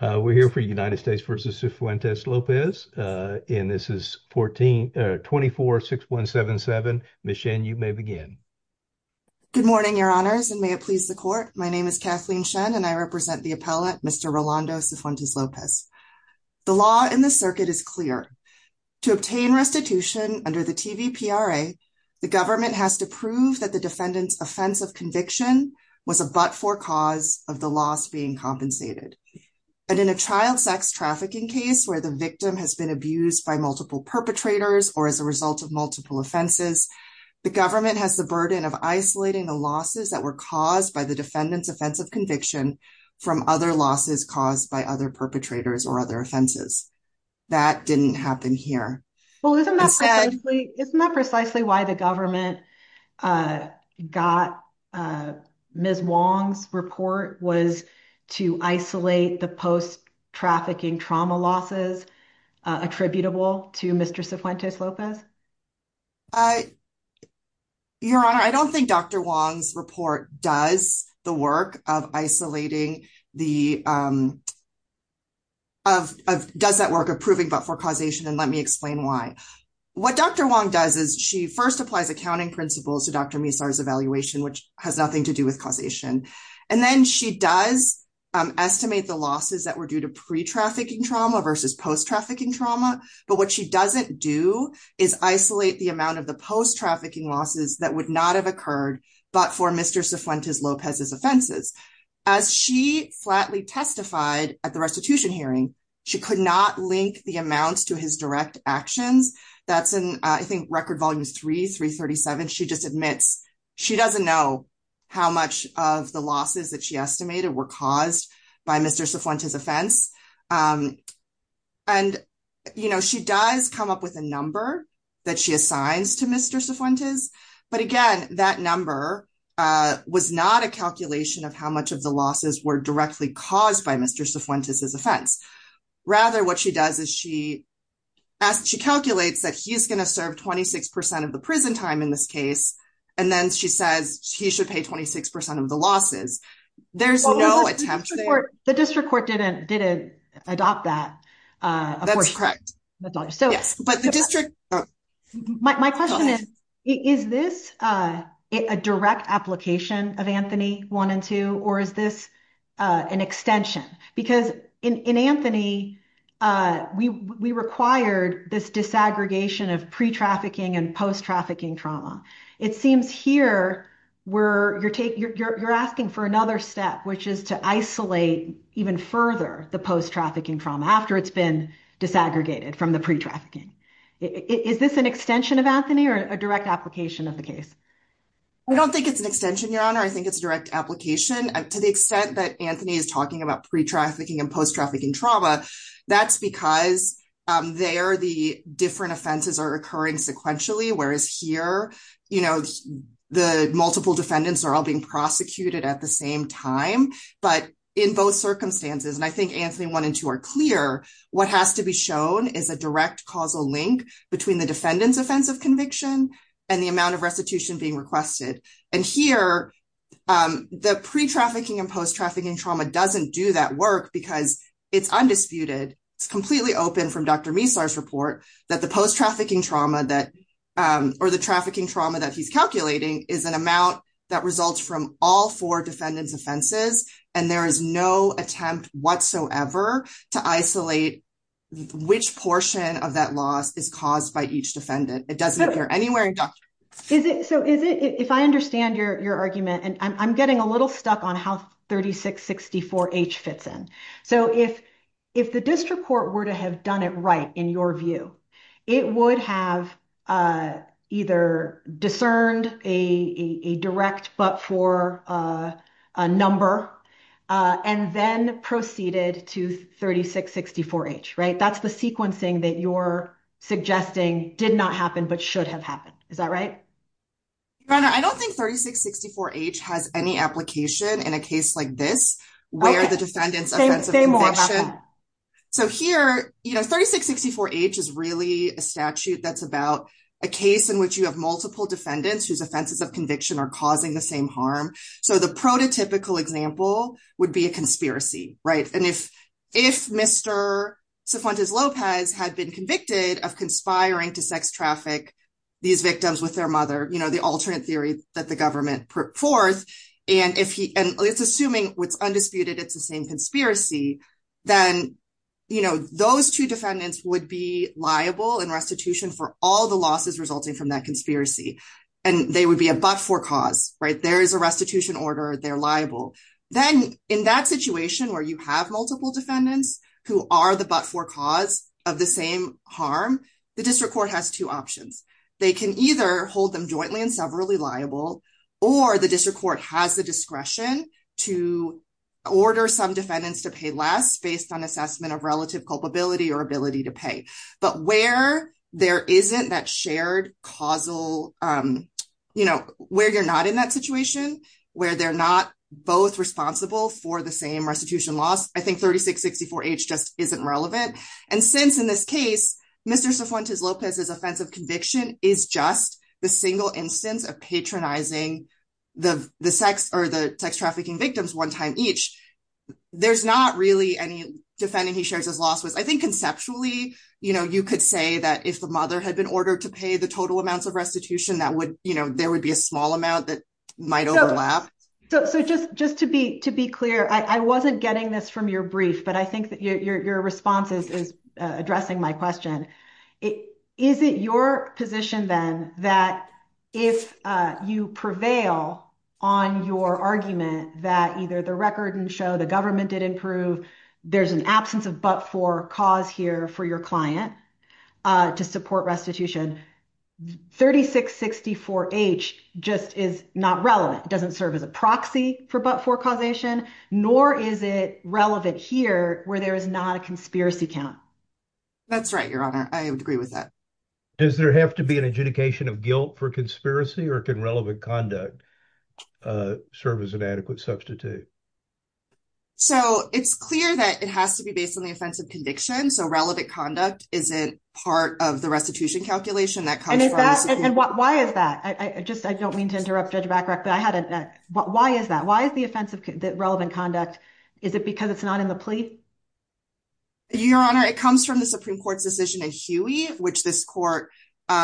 We're here for United States v. Cifuentes-Lopez, and this is 24-6177. Ms. Shen, you may begin. Good morning, your honors, and may it please the court. My name is Kathleen Shen, and I represent the appellate, Mr. Rolando Cifuentes-Lopez. The law in the circuit is clear. To obtain restitution under the TVPRA, the government has to prove that the defendant's offense of conviction was a but-for cause of the loss being compensated. But in a child sex trafficking case where the victim has been abused by multiple perpetrators or as a result of multiple offenses, the government has the burden of isolating the losses that were caused by the defendant's offense of conviction from other losses caused by other perpetrators or other offenses. That didn't happen here. Isn't that precisely why the government got Ms. Wong's report was to isolate the post-trafficking trauma losses attributable to Mr. Cifuentes-Lopez? Your honor, I don't think Dr. Wong's report does the work of isolating the post-trafficking trauma losses attributable to Mr. Cifuentes-Lopez. What Dr. Wong does is she first applies accounting principles to Dr. Misar's evaluation, which has nothing to do with causation. And then she does estimate the losses that were due to pre-trafficking trauma versus post-trafficking trauma. But what she doesn't do is isolate the amount of the post-trafficking losses that would not have occurred but for Mr. Cifuentes-Lopez's offenses. As she flatly testified at the restitution hearing, she could not link the amounts to his direct actions. That's in, I think, Record Volumes 3, 337. She just admits she doesn't know how much of the losses that she estimated were caused by Mr. Cifuentes' offense. And, you know, she does come up with a number that she assigns to Mr. Cifuentes. But again, that number was not a calculation of how much of the losses were directly caused by Mr. Cifuentes' offense. Rather, what she does is she calculates that he's going to serve 26% of the prison time in this case. And then she says he should pay 26% of the losses. There's no attempt to- The district court didn't adopt that. That's correct. But the district- My question is, is this a direct application of Anthony 1 and 2, or is this an extension? Because in Anthony, we required this disaggregation of pre-trafficking and post-trafficking trauma. It seems here you're asking for another step, which is to isolate even further the post-trafficking trauma after it's been disaggregated from the pre-trafficking. Is this an extension of Anthony or a direct application of the case? I don't think it's an extension, Your Honor. I think it's a direct application. To the extent that Anthony is talking about pre-trafficking and post-trafficking trauma, that's because there the different offenses are occurring sequentially, whereas here, you know, the multiple defendants are all being prosecuted at the same time. But in both circumstances, and I think Anthony 1 and 2 are clear, what has to be shown is a direct causal link between the defendant's offense of conviction and the amount of restitution being requested. And here, the pre-trafficking and post-trafficking trauma doesn't do that work because it's undisputed. It's completely open from Dr. Misar's report that the post-trafficking trauma or the trafficking trauma that he's calculating is an amount that results from all four defendants' offenses, and there is no attempt whatsoever to isolate which portion of that loss is caused by each defendant. It doesn't appear anywhere in Dr. Misar's report. So, if I understand your argument, and I'm getting a little stuck on how 3664H fits in. So, if the district court were to have done it right, in your view, it would have either discerned a direct, but for a number, and then proceeded to 3664H, right? That's the sequencing that you're suggesting did not happen, but should have happened. Is that right? Your Honor, I don't think 3664H has any application in a case like this, where the defendants' offense of conviction. Okay, say more about that. So here, you know, 3664H is really a statute that's about a case in which you have multiple defendants whose offenses of conviction are causing the same harm. So, the prototypical example would be a conspiracy, right? And if Mr. Cifuentes-Lopez had been convicted of conspiring to sex traffic these victims with their mother, you know, the alternate theory that the government put forth, and it's assuming it's undisputed it's the same conspiracy, then, you know, those two defendants would be liable in restitution for all the losses resulting from that conspiracy, and they would be a but-for cause, right? There is a restitution order, they're liable. Then, in that situation where you have multiple defendants who are the but-for cause of the same harm, the district court has two options. They can either hold them jointly and severally liable, or the district court has the discretion to order some defendants to pay less based on relative culpability or ability to pay. But where there isn't that shared causal, you know, where you're not in that situation, where they're not both responsible for the same restitution loss, I think 3664H just isn't relevant. And since, in this case, Mr. Cifuentes-Lopez's offensive conviction is just the single instance of patronizing the sex trafficking victims one time each, there's not really any defendant he shares his loss with. I think conceptually, you know, you could say that if the mother had been ordered to pay the total amounts of restitution, that would, you know, there would be a small amount that might overlap. So just to be clear, I wasn't getting this from your brief, but I think that your response is addressing my question. Is it your position, then, that if you prevail on your argument that either the record and show the government did improve, there's an absence of but-for cause here for your client to support restitution? 3664H just is not relevant. It doesn't serve as a proxy for but-for causation, nor is it relevant here where there is not a conspiracy count. That's right, Your Honor. I would agree with that. Does there have to be an adjudication of guilt for conspiracy, or can relevant conduct serve as an adequate substitute? So it's clear that it has to be based on the offensive conviction. So relevant conduct isn't part of the restitution calculation that comes from- And is that- and why is that? I just, I don't mean to interrupt Judge Bacharach, but I had a- why is that? Why is the offensive- the relevant conduct- is it because it's not in the plea? Your Honor, it comes from the Supreme Court's decision in Huey, which this court, you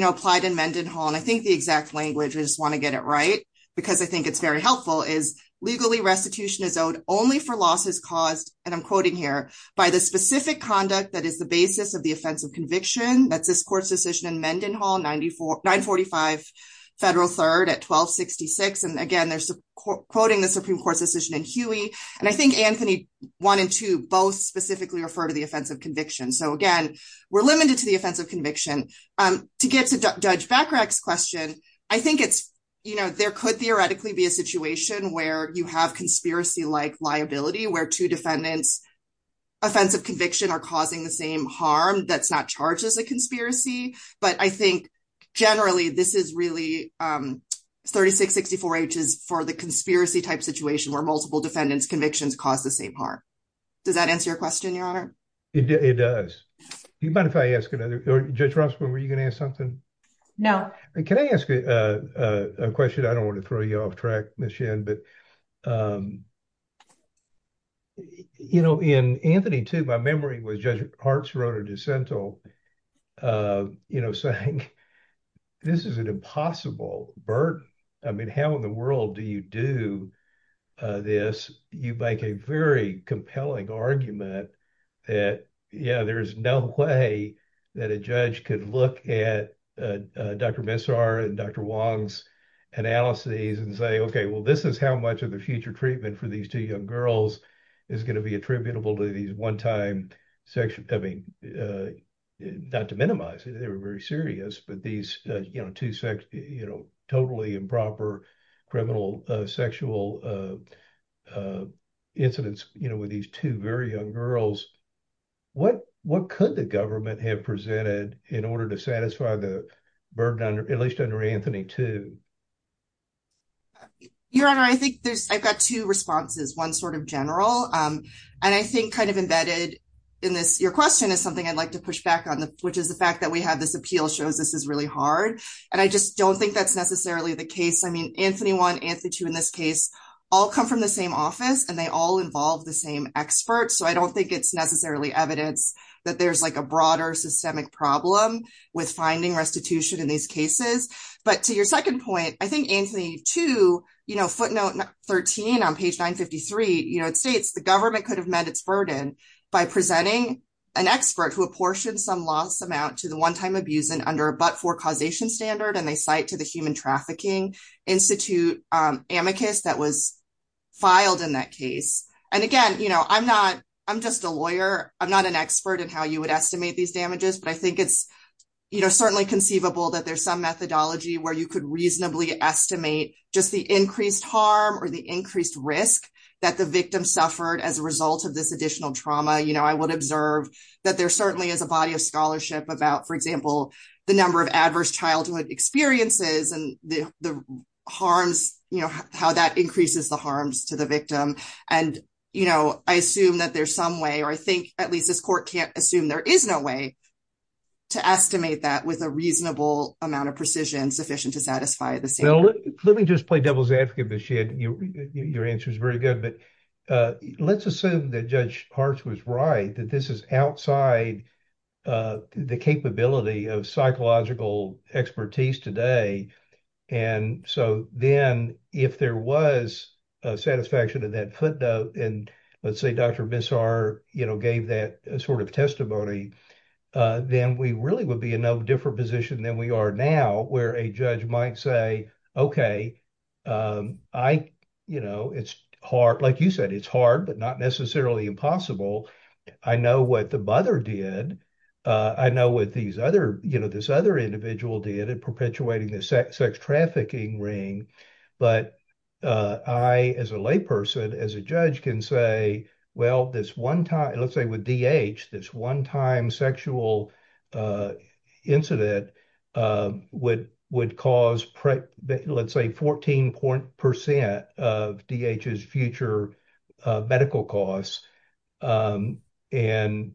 know, and I think the exact language, I just want to get it right, because I think it's very helpful, is legally restitution is owed only for losses caused, and I'm quoting here, by the specific conduct that is the basis of the offensive conviction. That's this court's decision in Mendenhall, 945 Federal 3rd at 1266. And again, they're quoting the Supreme Court's decision in Huey. And I think Anthony wanted to both specifically refer to the offensive conviction. To get to Judge Bacharach's question, I think it's, you know, there could theoretically be a situation where you have conspiracy-like liability, where two defendants' offensive conviction are causing the same harm that's not charged as a conspiracy. But I think generally, this is really 3664H is for the conspiracy-type situation where multiple defendants' convictions cause the same harm. Does that answer your question, Your Honor? It does. Do you mind if I ask another? Judge Rossman, were you going to ask something? No. Can I ask a question? I don't want to throw you off track, Ms. Shin, but, um, you know, in Anthony too, my memory was Judge Harts wrote a dissent, uh, you know, saying, this is an impossible burden. I mean, how in the world do you do, uh, this? You make a very compelling argument that, yeah, there's no way that a judge could look at, uh, uh, Dr. Messar and Dr. Wong's analyses and say, okay, well, this is how much of the future treatment for these two young girls is going to be attributable to these one-time sexual, I mean, uh, not to minimize it, they were very serious, but these, uh, you know, two sex, you know, totally improper criminal, uh, sexual, uh, uh, incidents, you know, with these two very young girls, what, what could the government have presented in order to satisfy the burden under, at least under Anthony too? Your Honor, I think there's, I've got two responses, one sort of general, um, and I think kind of embedded in this, your question is something I'd like to push back which is the fact that we have this appeal shows this is really hard. And I just don't think that's necessarily the case. I mean, Anthony one, Anthony two in this case all come from the same office and they all involve the same experts. So I don't think it's necessarily evidence that there's like a broader systemic problem with finding restitution in these cases. But to your second point, I think Anthony two, you know, footnote 13 on page 953, you know, it states the government could have by presenting an expert who apportioned some loss amount to the one-time abuse and under a but-for causation standard. And they cite to the human trafficking institute, um, amicus that was filed in that case. And again, you know, I'm not, I'm just a lawyer. I'm not an expert in how you would estimate these damages, but I think it's, you know, certainly conceivable that there's some methodology where you could reasonably estimate just the increased harm or the increased risk that the victim suffered as a result of this additional trauma. You know, I would observe that there certainly is a body of scholarship about, for example, the number of adverse childhood experiences and the harms, you know, how that increases the harms to the victim. And, you know, I assume that there's some way, or I think at least this court can't assume there is no way to estimate that with a reasonable amount of precision sufficient to satisfy the Let me just play devil's advocate, but your answer is very good. But, uh, let's assume that Judge Hartz was right, that this is outside, uh, the capability of psychological expertise today. And so then if there was a satisfaction of that footnote and let's say Dr. Bissar, you know, gave that sort of testimony, uh, then we really would be in no different position than we are now where a judge might say, okay, um, I, you know, it's hard, like you said, it's hard, but not necessarily impossible. I know what the mother did. Uh, I know what these other, you know, this other individual did at perpetuating the sex trafficking ring. But, uh, I, as a lay person, as a judge can say, well, this one time, let's say with DH, this one time sexual, uh, incident, would, would cause, let's say 14% of DH's future medical costs. Um, and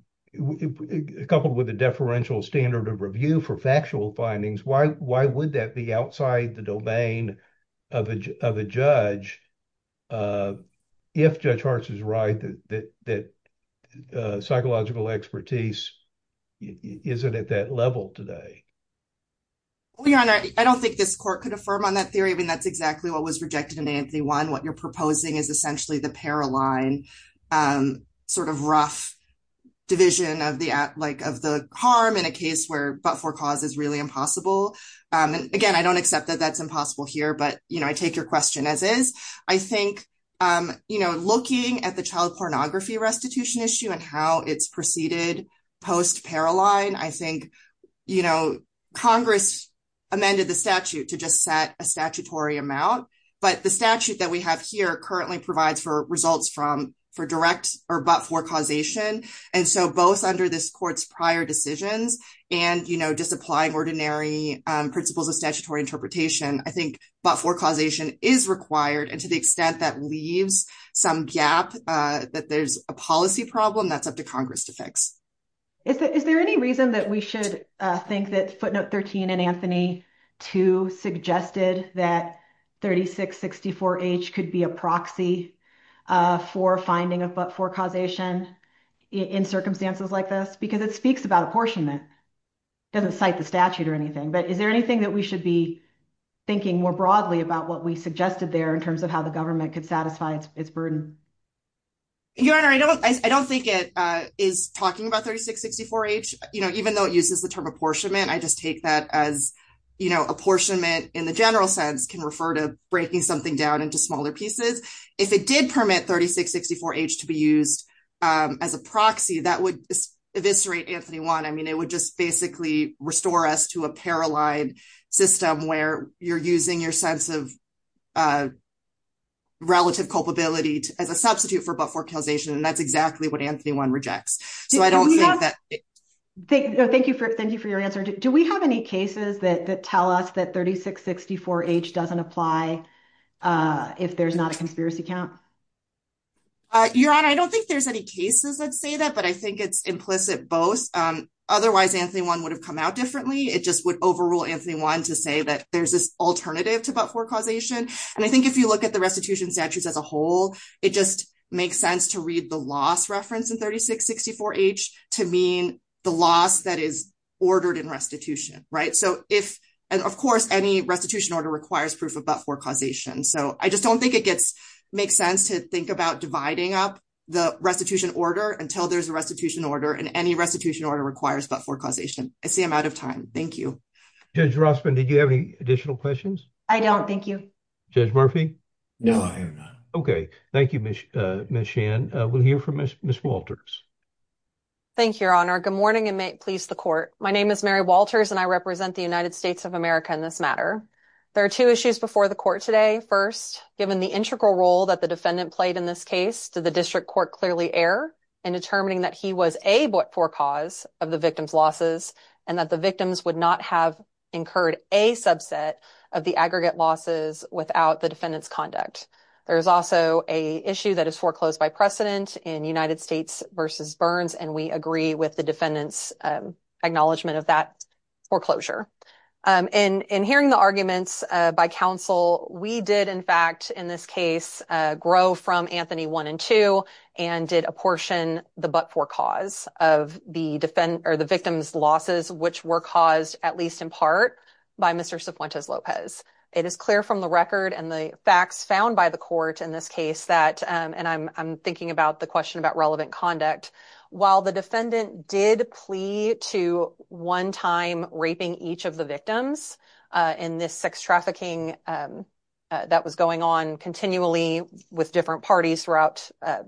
coupled with the deferential standard of review for factual findings, why, why would that be outside the domain of a, of a judge? Uh, if Judge Hartz is right, that, that, that, uh, psychological expertise isn't at that level today. Well, your honor, I don't think this court could affirm on that theory. I mean, that's exactly what was rejected in Anthony one. What you're proposing is essentially the para line, um, sort of rough division of the app, like of the harm in a case where, but for cause is really impossible. Um, and again, I don't accept that that's impossible here, but, you know, I take your question as is, I think, um, you know, looking at the child pornography restitution issue and how it's proceeded post para line, I think, you know, Congress amended the statute to just set a statutory amount, but the statute that we have here currently provides for results from, for direct or but for causation. And so both under this court's prior decisions and, you know, just applying ordinary, um, principles of statutory interpretation, I think, but for causation is required. And to the extent that leaves some gap, uh, that there's a policy problem that's up to Congress to fix. Is there any reason that we should think that footnote 13 and Anthony two suggested that 36, 64 age could be a proxy, uh, for finding of, but for causation in circumstances like this, because it speaks about apportionment doesn't cite the statute or in terms of how the government could satisfy its burden. Your honor. I don't, I don't think it, uh, is talking about 36, 64 age, you know, even though it uses the term apportionment, I just take that as, you know, apportionment in the general sense can refer to breaking something down into smaller pieces. If it did permit 36, 64 age to be used, um, as a proxy that would eviscerate Anthony one. I mean, it would just basically restore us to a paralyzed system where you're using your sense of, uh, relative culpability as a substitute for, but for causation. And that's exactly what Anthony one rejects. So I don't think that thank you. Thank you for your answer. Do we have any cases that tell us that 36, 64 age doesn't apply, uh, if there's not a conspiracy count, uh, your honor, I don't think there's any cases that say that, but I think it's implicit both. Um, otherwise Anthony one would come out differently. It just would overrule Anthony one to say that there's this alternative to, but for causation. And I think if you look at the restitution statutes as a whole, it just makes sense to read the loss reference in 36, 64 age to mean the loss that is ordered in restitution, right? So if, and of course, any restitution order requires proof of, but for causation. So I just don't think it gets make sense to think about dividing up the restitution order until there's a restitution order and any restitution order requires, but for causation, I see I'm out of time. Thank you. Judge Rossman. Did you have any additional questions? I don't. Thank you. Judge Murphy. No, I am not. Okay. Thank you. Ms. Uh, Ms. Shannon, uh, we'll hear from Ms. Ms. Walters. Thank you, your honor. Good morning and may it please the court. My name is Mary Walters and I represent the United States of America in this matter. There are two issues before the court today. First, given the integral role that the defendant played in this case to the court, clearly error in determining that he was able for cause of the victim's losses and that the victims would not have incurred a subset of the aggregate losses without the defendant's conduct. There is also a issue that is foreclosed by precedent in United States versus Burns. And we agree with the defendant's, um, acknowledgement of that foreclosure. Um, and in hearing the by counsel, we did in fact, in this case, uh, grow from Anthony one and two and did a portion the, but for cause of the defend or the victim's losses, which were caused at least in part by Mr. Cepuentes Lopez. It is clear from the record and the facts found by the court in this case that, um, and I'm, I'm thinking about the question about relevant conduct while the defendant did to one time raping each of the victims, uh, in this sex trafficking, um, uh, that was going on continually with different parties throughout, uh,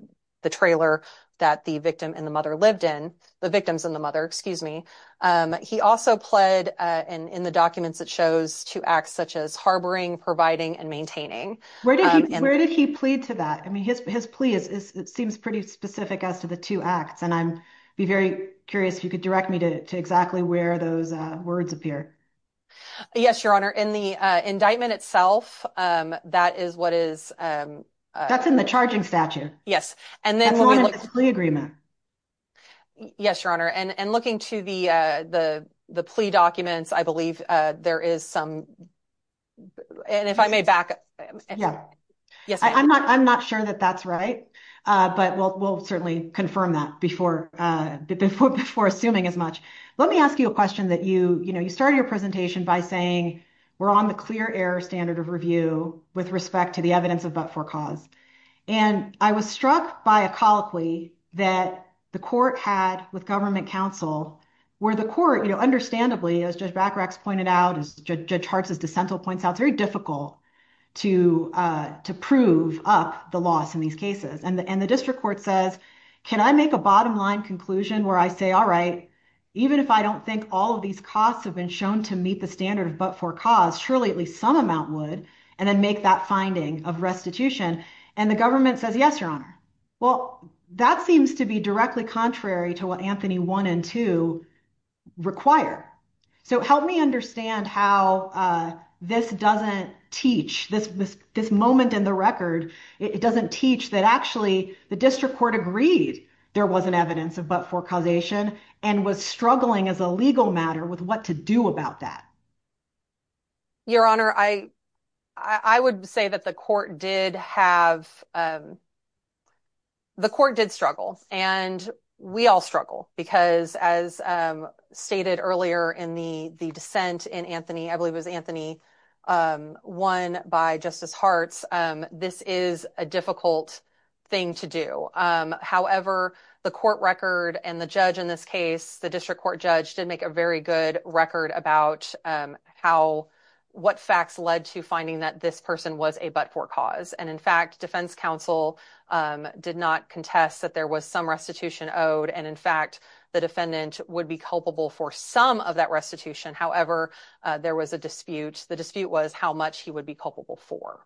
the trailer that the victim and the mother lived in the victims and the mother, excuse me. Um, he also pled, uh, and in the documents that shows to acts such as harboring, providing, and maintaining. Where did he, where did he plead to that? I mean, his, his plea is, is, it seems pretty specific as to the two acts. And I'm very curious if you could direct me to exactly where those, uh, words appear. Yes, your honor in the, uh, indictment itself. Um, that is what is, um, uh, that's in the charging statute. Yes. And then the agreement. Yes, your honor. And, and looking to the, uh, the, the plea documents, I believe, uh, there is some, and if I may back up, yes, I'm not, I'm not sure that that's right. Uh, but we'll, we'll certainly confirm that before, uh, before, before assuming as much, let me ask you a question that you, you know, you started your presentation by saying we're on the clear air standard of review with respect to the evidence of but for cause. And I was struck by a colloquy that the court had with government counsel, where the court, you know, understandably as just back racks pointed out, as judge hearts, as the central points out, it's very difficult to, uh, to prove up the loss in these cases. And the, and the district court says, can I make a bottom line conclusion where I say, all right, even if I don't think all of these costs have been shown to meet the standard of, but for cause surely at least some amount would, and then make that finding of restitution. And the government says, yes, your honor. Well, that seems to be directly contrary to what Anthony one and two require. So help me understand how, uh, this doesn't teach this, this moment in the record. It doesn't teach that actually the district court agreed there wasn't evidence of, but for causation and was struggling as a legal matter with what to do about that. Your honor. I, I would say that the court did have, um, the court did struggle and we all because as, um, stated earlier in the, the dissent in Anthony, I believe it was Anthony, um, one by justice hearts. Um, this is a difficult thing to do. Um, however, the court record and the judge in this case, the district court judge did make a very good record about, um, how, what facts led to finding that this person was a, but for cause. And in was some restitution owed. And in fact, the defendant would be culpable for some of that restitution. However, uh, there was a dispute. The dispute was how much he would be culpable for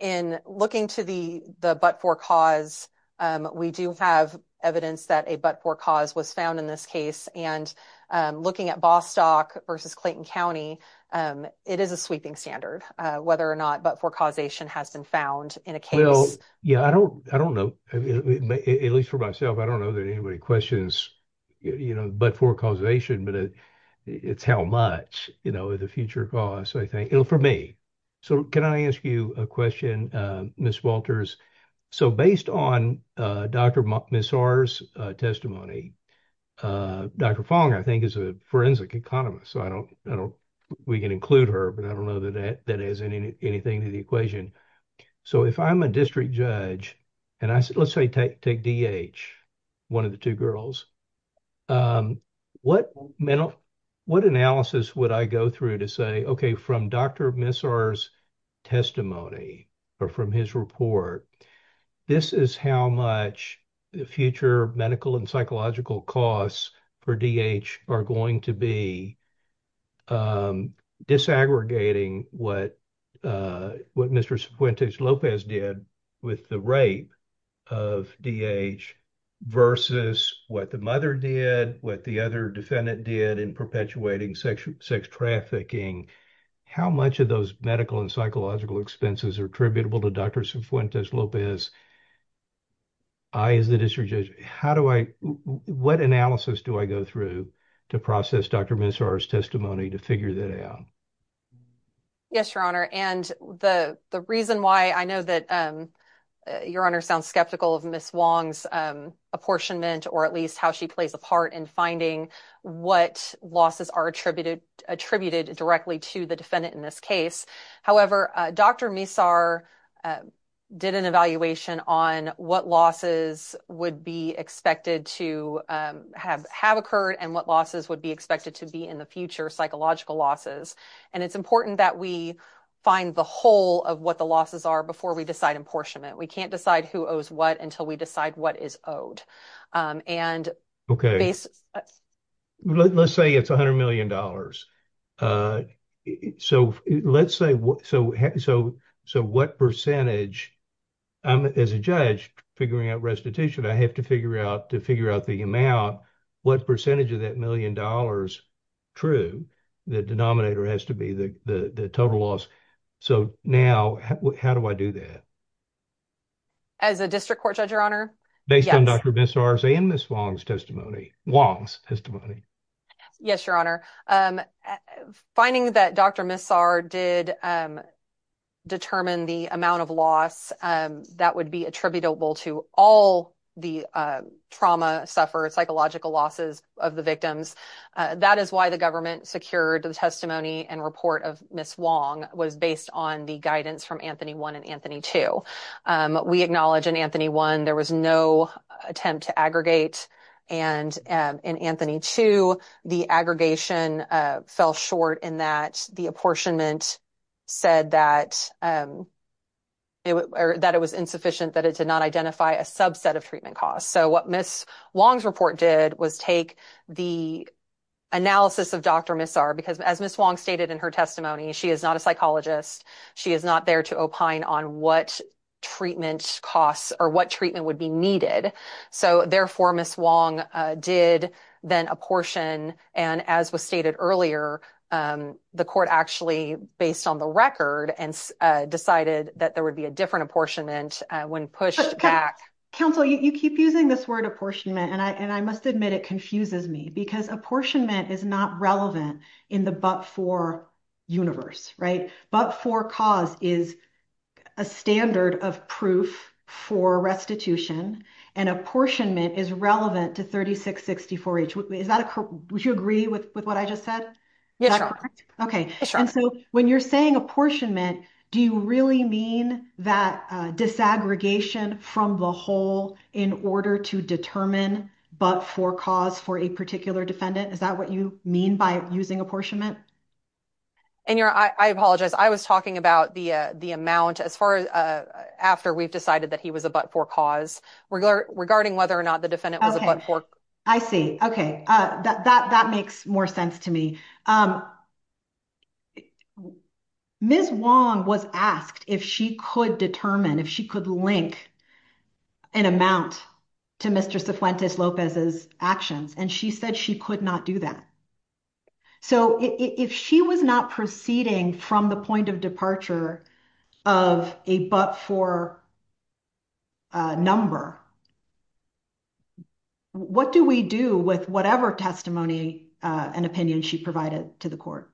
in looking to the, the, but for cause, um, we do have evidence that a, but for cause was found in this case and, um, looking at Bostock versus Clayton County, um, it is a sweeping standard, uh, whether or not, but for causation has been found in a case. Yeah. I don't, I don't know, at least for myself, I don't know that anybody questions, you know, but for causation, but it's how much, you know, the future costs, I think it'll for me. So can I ask you a question, uh, Ms. Walters? So based on, uh, Dr. Messars, uh, testimony, uh, Dr. Fong, I think is a forensic economist. So I don't, I don't, we can include her, but I don't that has any, anything to the equation. So if I'm a district judge and I said, let's say take, take DH, one of the two girls, um, what mental, what analysis would I go through to say, okay, from Dr. Messars testimony or from his report, this is how much the future medical and psychological costs for DH are going to be, um, disaggregating what, uh, what Mr. Cifuentes-Lopez did with the rape of DH versus what the mother did, what the other defendant did in perpetuating sex, sex trafficking. How much of those medical and psychological expenses are tributable to Dr. Cifuentes-Lopez? I, as the district judge, how do I, what analysis do I go through to process Dr. Messars testimony to figure that out? Yes, your honor. And the, the reason why I know that, um, uh, your honor sounds skeptical of Ms. Wong's, um, apportionment, or at least how she plays a part in finding what losses are attributed, attributed directly to the defendant in this case. However, uh, Dr. Messar, uh, did an evaluation on what losses would be expected to, um, have, have occurred and what losses would be expected to be in the future psychological losses. And it's important that we find the whole of what the losses are before we decide apportionment. We can't decide who owes what until we decide what is owed. Um, and- Okay. Let's say it's a hundred million dollars. Uh, so let's say what, so, so, so what percentage, I'm, as a judge figuring out restitution, I have to figure out, to figure out the amount, what percentage of that million dollars true, the denominator has to be the, the, the total loss. So now how do I do that? As a district court judge, your honor? Based on Dr. Messar's and Ms. Wong's testimony, Wong's testimony. Yes, your honor. Um, finding that Dr. Messar did, um, determine the amount of loss, um, that would be attributable to all the, uh, trauma suffered, psychological losses of the victims. That is why the government secured the testimony and report of Ms. Wong was based on the guidance from Anthony 1 and Anthony 2. Um, we acknowledge in Anthony 1, there was no attempt to aggregate. And, um, in Anthony 2, the aggregation, uh, fell short in that the apportionment said that, um, it w- or that it was insufficient, that it did not identify a subset of treatment costs. So what Ms. Wong's report did was take the analysis of Dr. Messar, because as Ms. Wong stated in her testimony, she is not a psychologist. She is not there to opine on what treatment costs or what treatment would be needed. So therefore Ms. Wong, uh, did then apportion. And as was stated earlier, um, the court actually based on the record and, uh, decided that there would be a different apportionment, uh, when pushed back. Counsel, you, you keep using this word apportionment and I, and I must admit it confuses me because apportionment is not relevant in the but-for universe, right? But-for cause is a standard of proof for restitution and apportionment is relevant to 36-64H. Is that a cor- would you agree with, with what I just said? Yes, Your Honor. Okay. And so when you're saying apportionment, do you really mean that, uh, disaggregation from the whole in order to determine but-for cause for a particular defendant? Is that what you by using apportionment? And Your Honor, I, I apologize. I was talking about the, uh, the amount as far as, uh, after we've decided that he was a but-for cause regarding whether or not the defendant was a but-for. I see. Okay. Uh, that, that, that makes more sense to me. Um, Ms. Wong was asked if she could determine, if she could link an amount to Mr. Cifuentes Lopez's actions, and she said she could not do that. So if she was not proceeding from the point of departure of a but-for, uh, number, what do we do with whatever testimony, uh, and opinion she provided to the court?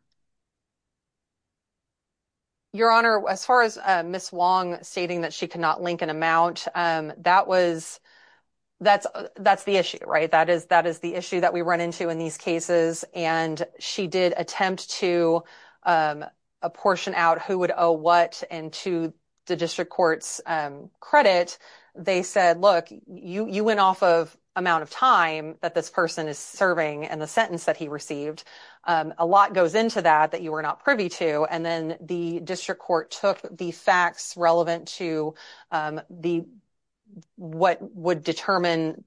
Your Honor, as far as, uh, Ms. Wong stating that she could not link an amount, um, that was, that's, that's the issue, right? That is, that is the issue that we run into in these cases, and she did attempt to, um, apportion out who would owe what and to the district court's, um, credit. They said, look, you, you went off of amount of time that this person is serving and the sentence that he received. Um, a lot goes into that, that you were not privy to, and then the district court took the facts relevant to, um, the, what would determine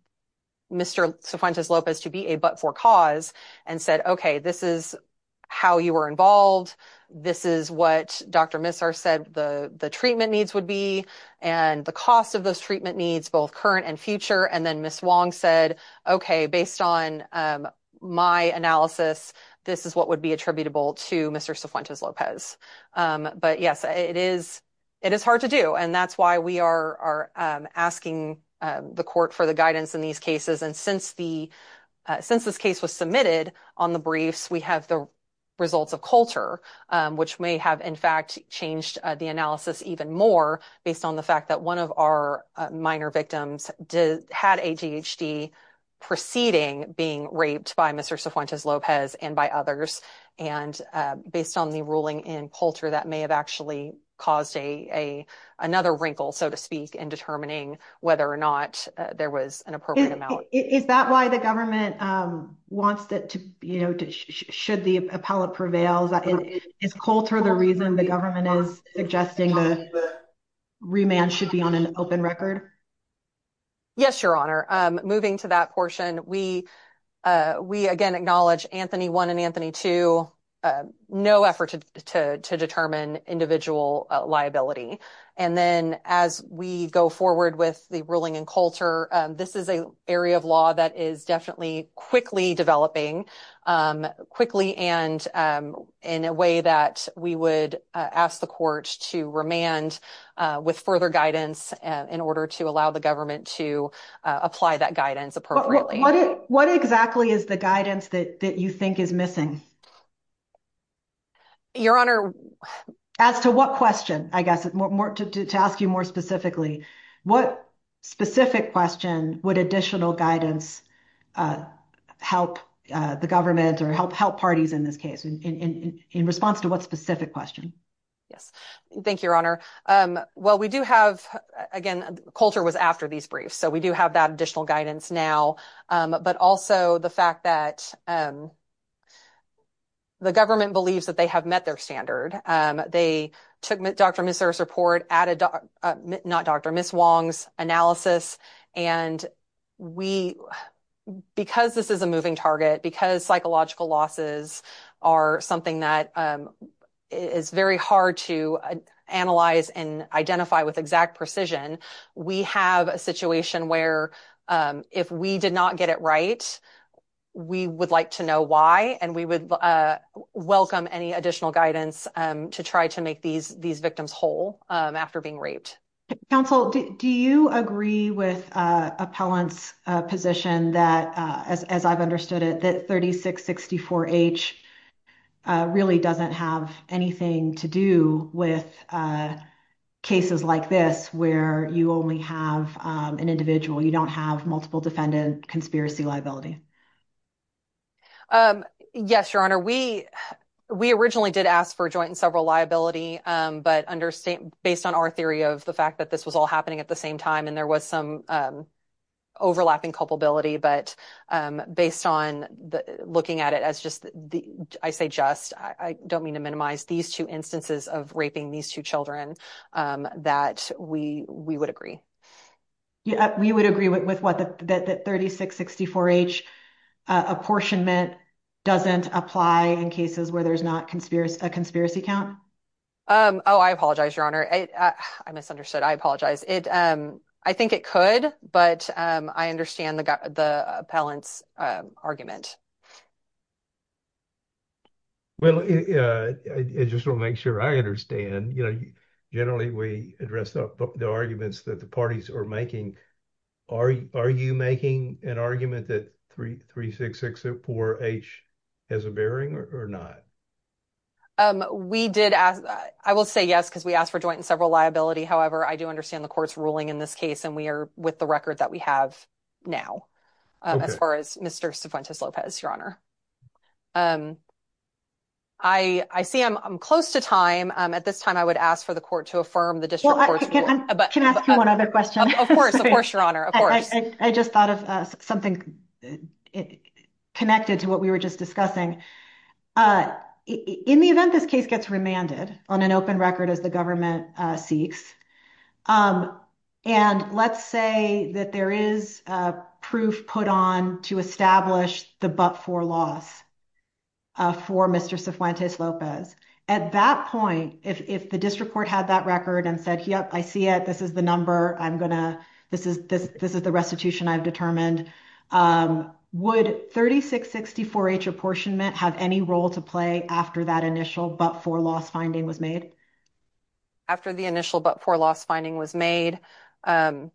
Mr. Cifuentes Lopez to be a but-for cause and said, okay, this is how you were involved, this is what Dr. Misar said the, the treatment needs would be, and the cost of those treatment needs, both current and future, and then Ms. Wong said, okay, based on, um, my analysis, this is what would be attributable to Mr. Cifuentes Lopez. Um, but yes, it is, it is hard to do, and that's why we are, are, um, asking, um, the court for the guidance in these cases, and since the, uh, since this case was submitted on the briefs, we have the results of Coulter, um, which may have, in fact, changed, uh, the analysis even more based on the fact that one of our, uh, minor victims did, had ADHD preceding being raped by Mr. Cifuentes Lopez and by others, and, uh, based on the ruling in Coulter, that may have actually caused a, a, another wrinkle, so to speak, in determining whether or not, uh, there was an appropriate amount. Is that why the government, um, wants it to, you know, to, should the appellate prevails? Is Coulter the reason the government is suggesting the remand should be on an open record? Yes, Your Honor. Um, moving to that portion, we, uh, we again acknowledge Anthony 1 and Anthony 2, uh, no effort to, to, to determine individual, uh, liability, and then as we go forward with the ruling in Coulter, um, this is an area of law that is definitely quickly developing, um, and, um, in a way that we would, uh, ask the court to remand, uh, with further guidance, uh, in order to allow the government to, uh, apply that guidance appropriately. What exactly is the guidance that, that you think is missing? Your Honor. As to what question, I guess, more, more to, to, to ask you more specifically, what specific question would additional guidance, uh, help, uh, the government or help, help parties in this case in, in, in, in response to what specific question? Yes. Thank you, Your Honor. Um, well, we do have, again, Coulter was after these briefs, so we do have that additional guidance now. Um, but also the fact that, um, the government believes that they have met their standard. Um, they took Dr. Miser's report, added, uh, not Dr., Ms. Wong's analysis, and we, because this is a moving target, because psychological losses are something that, um, is very hard to, uh, analyze and identify with exact precision, we have a situation where, um, if we did not get it right, we would like to know why, and we would, uh, welcome any additional guidance, um, to try to these victims whole, um, after being raped. Counsel, do you agree with, uh, Appellant's, uh, position that, uh, as, as I've understood it, that 3664H, uh, really doesn't have anything to do with, uh, cases like this where you only have, um, an individual, you don't have multiple defendant conspiracy liability? Um, yes, Your Honor. We, we originally did ask for but understand, based on our theory of the fact that this was all happening at the same time, and there was some, um, overlapping culpability, but, um, based on the, looking at it as just the, I say just, I, I don't mean to minimize these two instances of raping these two children, um, that we, we would agree. Yeah, we would agree with what the, that, that 3664H, uh, apportionment doesn't apply in cases where there's not conspiracy, a conspiracy count? Um, oh, I apologize, Your Honor. I, I misunderstood. I apologize. It, um, I think it could, but, um, I understand the, the Appellant's, um, argument. Well, uh, I, I just want to make sure I understand, you know, you, generally we address the, the arguments that the parties are making. Are, are you making an argument that 36604H has a bearing or, or not? Um, we did ask, I will say yes because we asked for joint and several liability. However, I do understand the court's ruling in this case and we are with the record that we have now, um, as far as Mr. Cifuentes-Lopez, Your Honor. Um, I, I see I'm, I'm close to time. Um, at this time I would ask for the court to affirm the district court's ruling. Can I ask you one other question? Of course, of course, Your Honor, I just thought of something connected to what we were just discussing. Uh, in the event this case gets remanded on an open record as the government, uh, seeks, um, and let's say that there is, uh, proof put on to establish the but-for loss, uh, for Mr. Cifuentes-Lopez. At that point, if, if the district court had that record and said, yep, I see it. This is the number I'm gonna, this is, this, this is the restitution I've determined. Um, would 3660-4-H apportionment have any role to play after that initial but-for loss finding was made? After the initial but-for loss finding was made, um,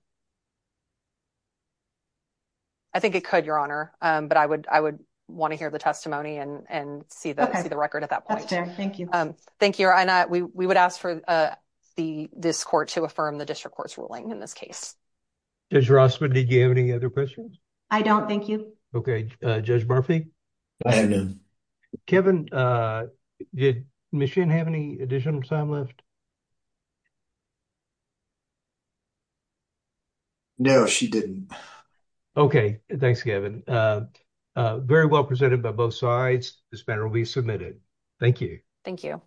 I think it could, Your Honor. Um, but I would, I would want to hear the testimony and, and see the, see the record at that point. That's fair. Thank you. Um, thank you, Your Honor. We, we would ask for, uh, the, this court to affirm the district court's ruling in this case. Judge Rossman, did you have any other questions? I don't. Thank you. Okay. Uh, Judge Murphy? I have none. Kevin, uh, did Ms. Shinn have any additional time left? No, she didn't. Okay. Thanks, Kevin. Uh, uh, very well presented by both sides. This matter will be submitted. Thank you. Thank you.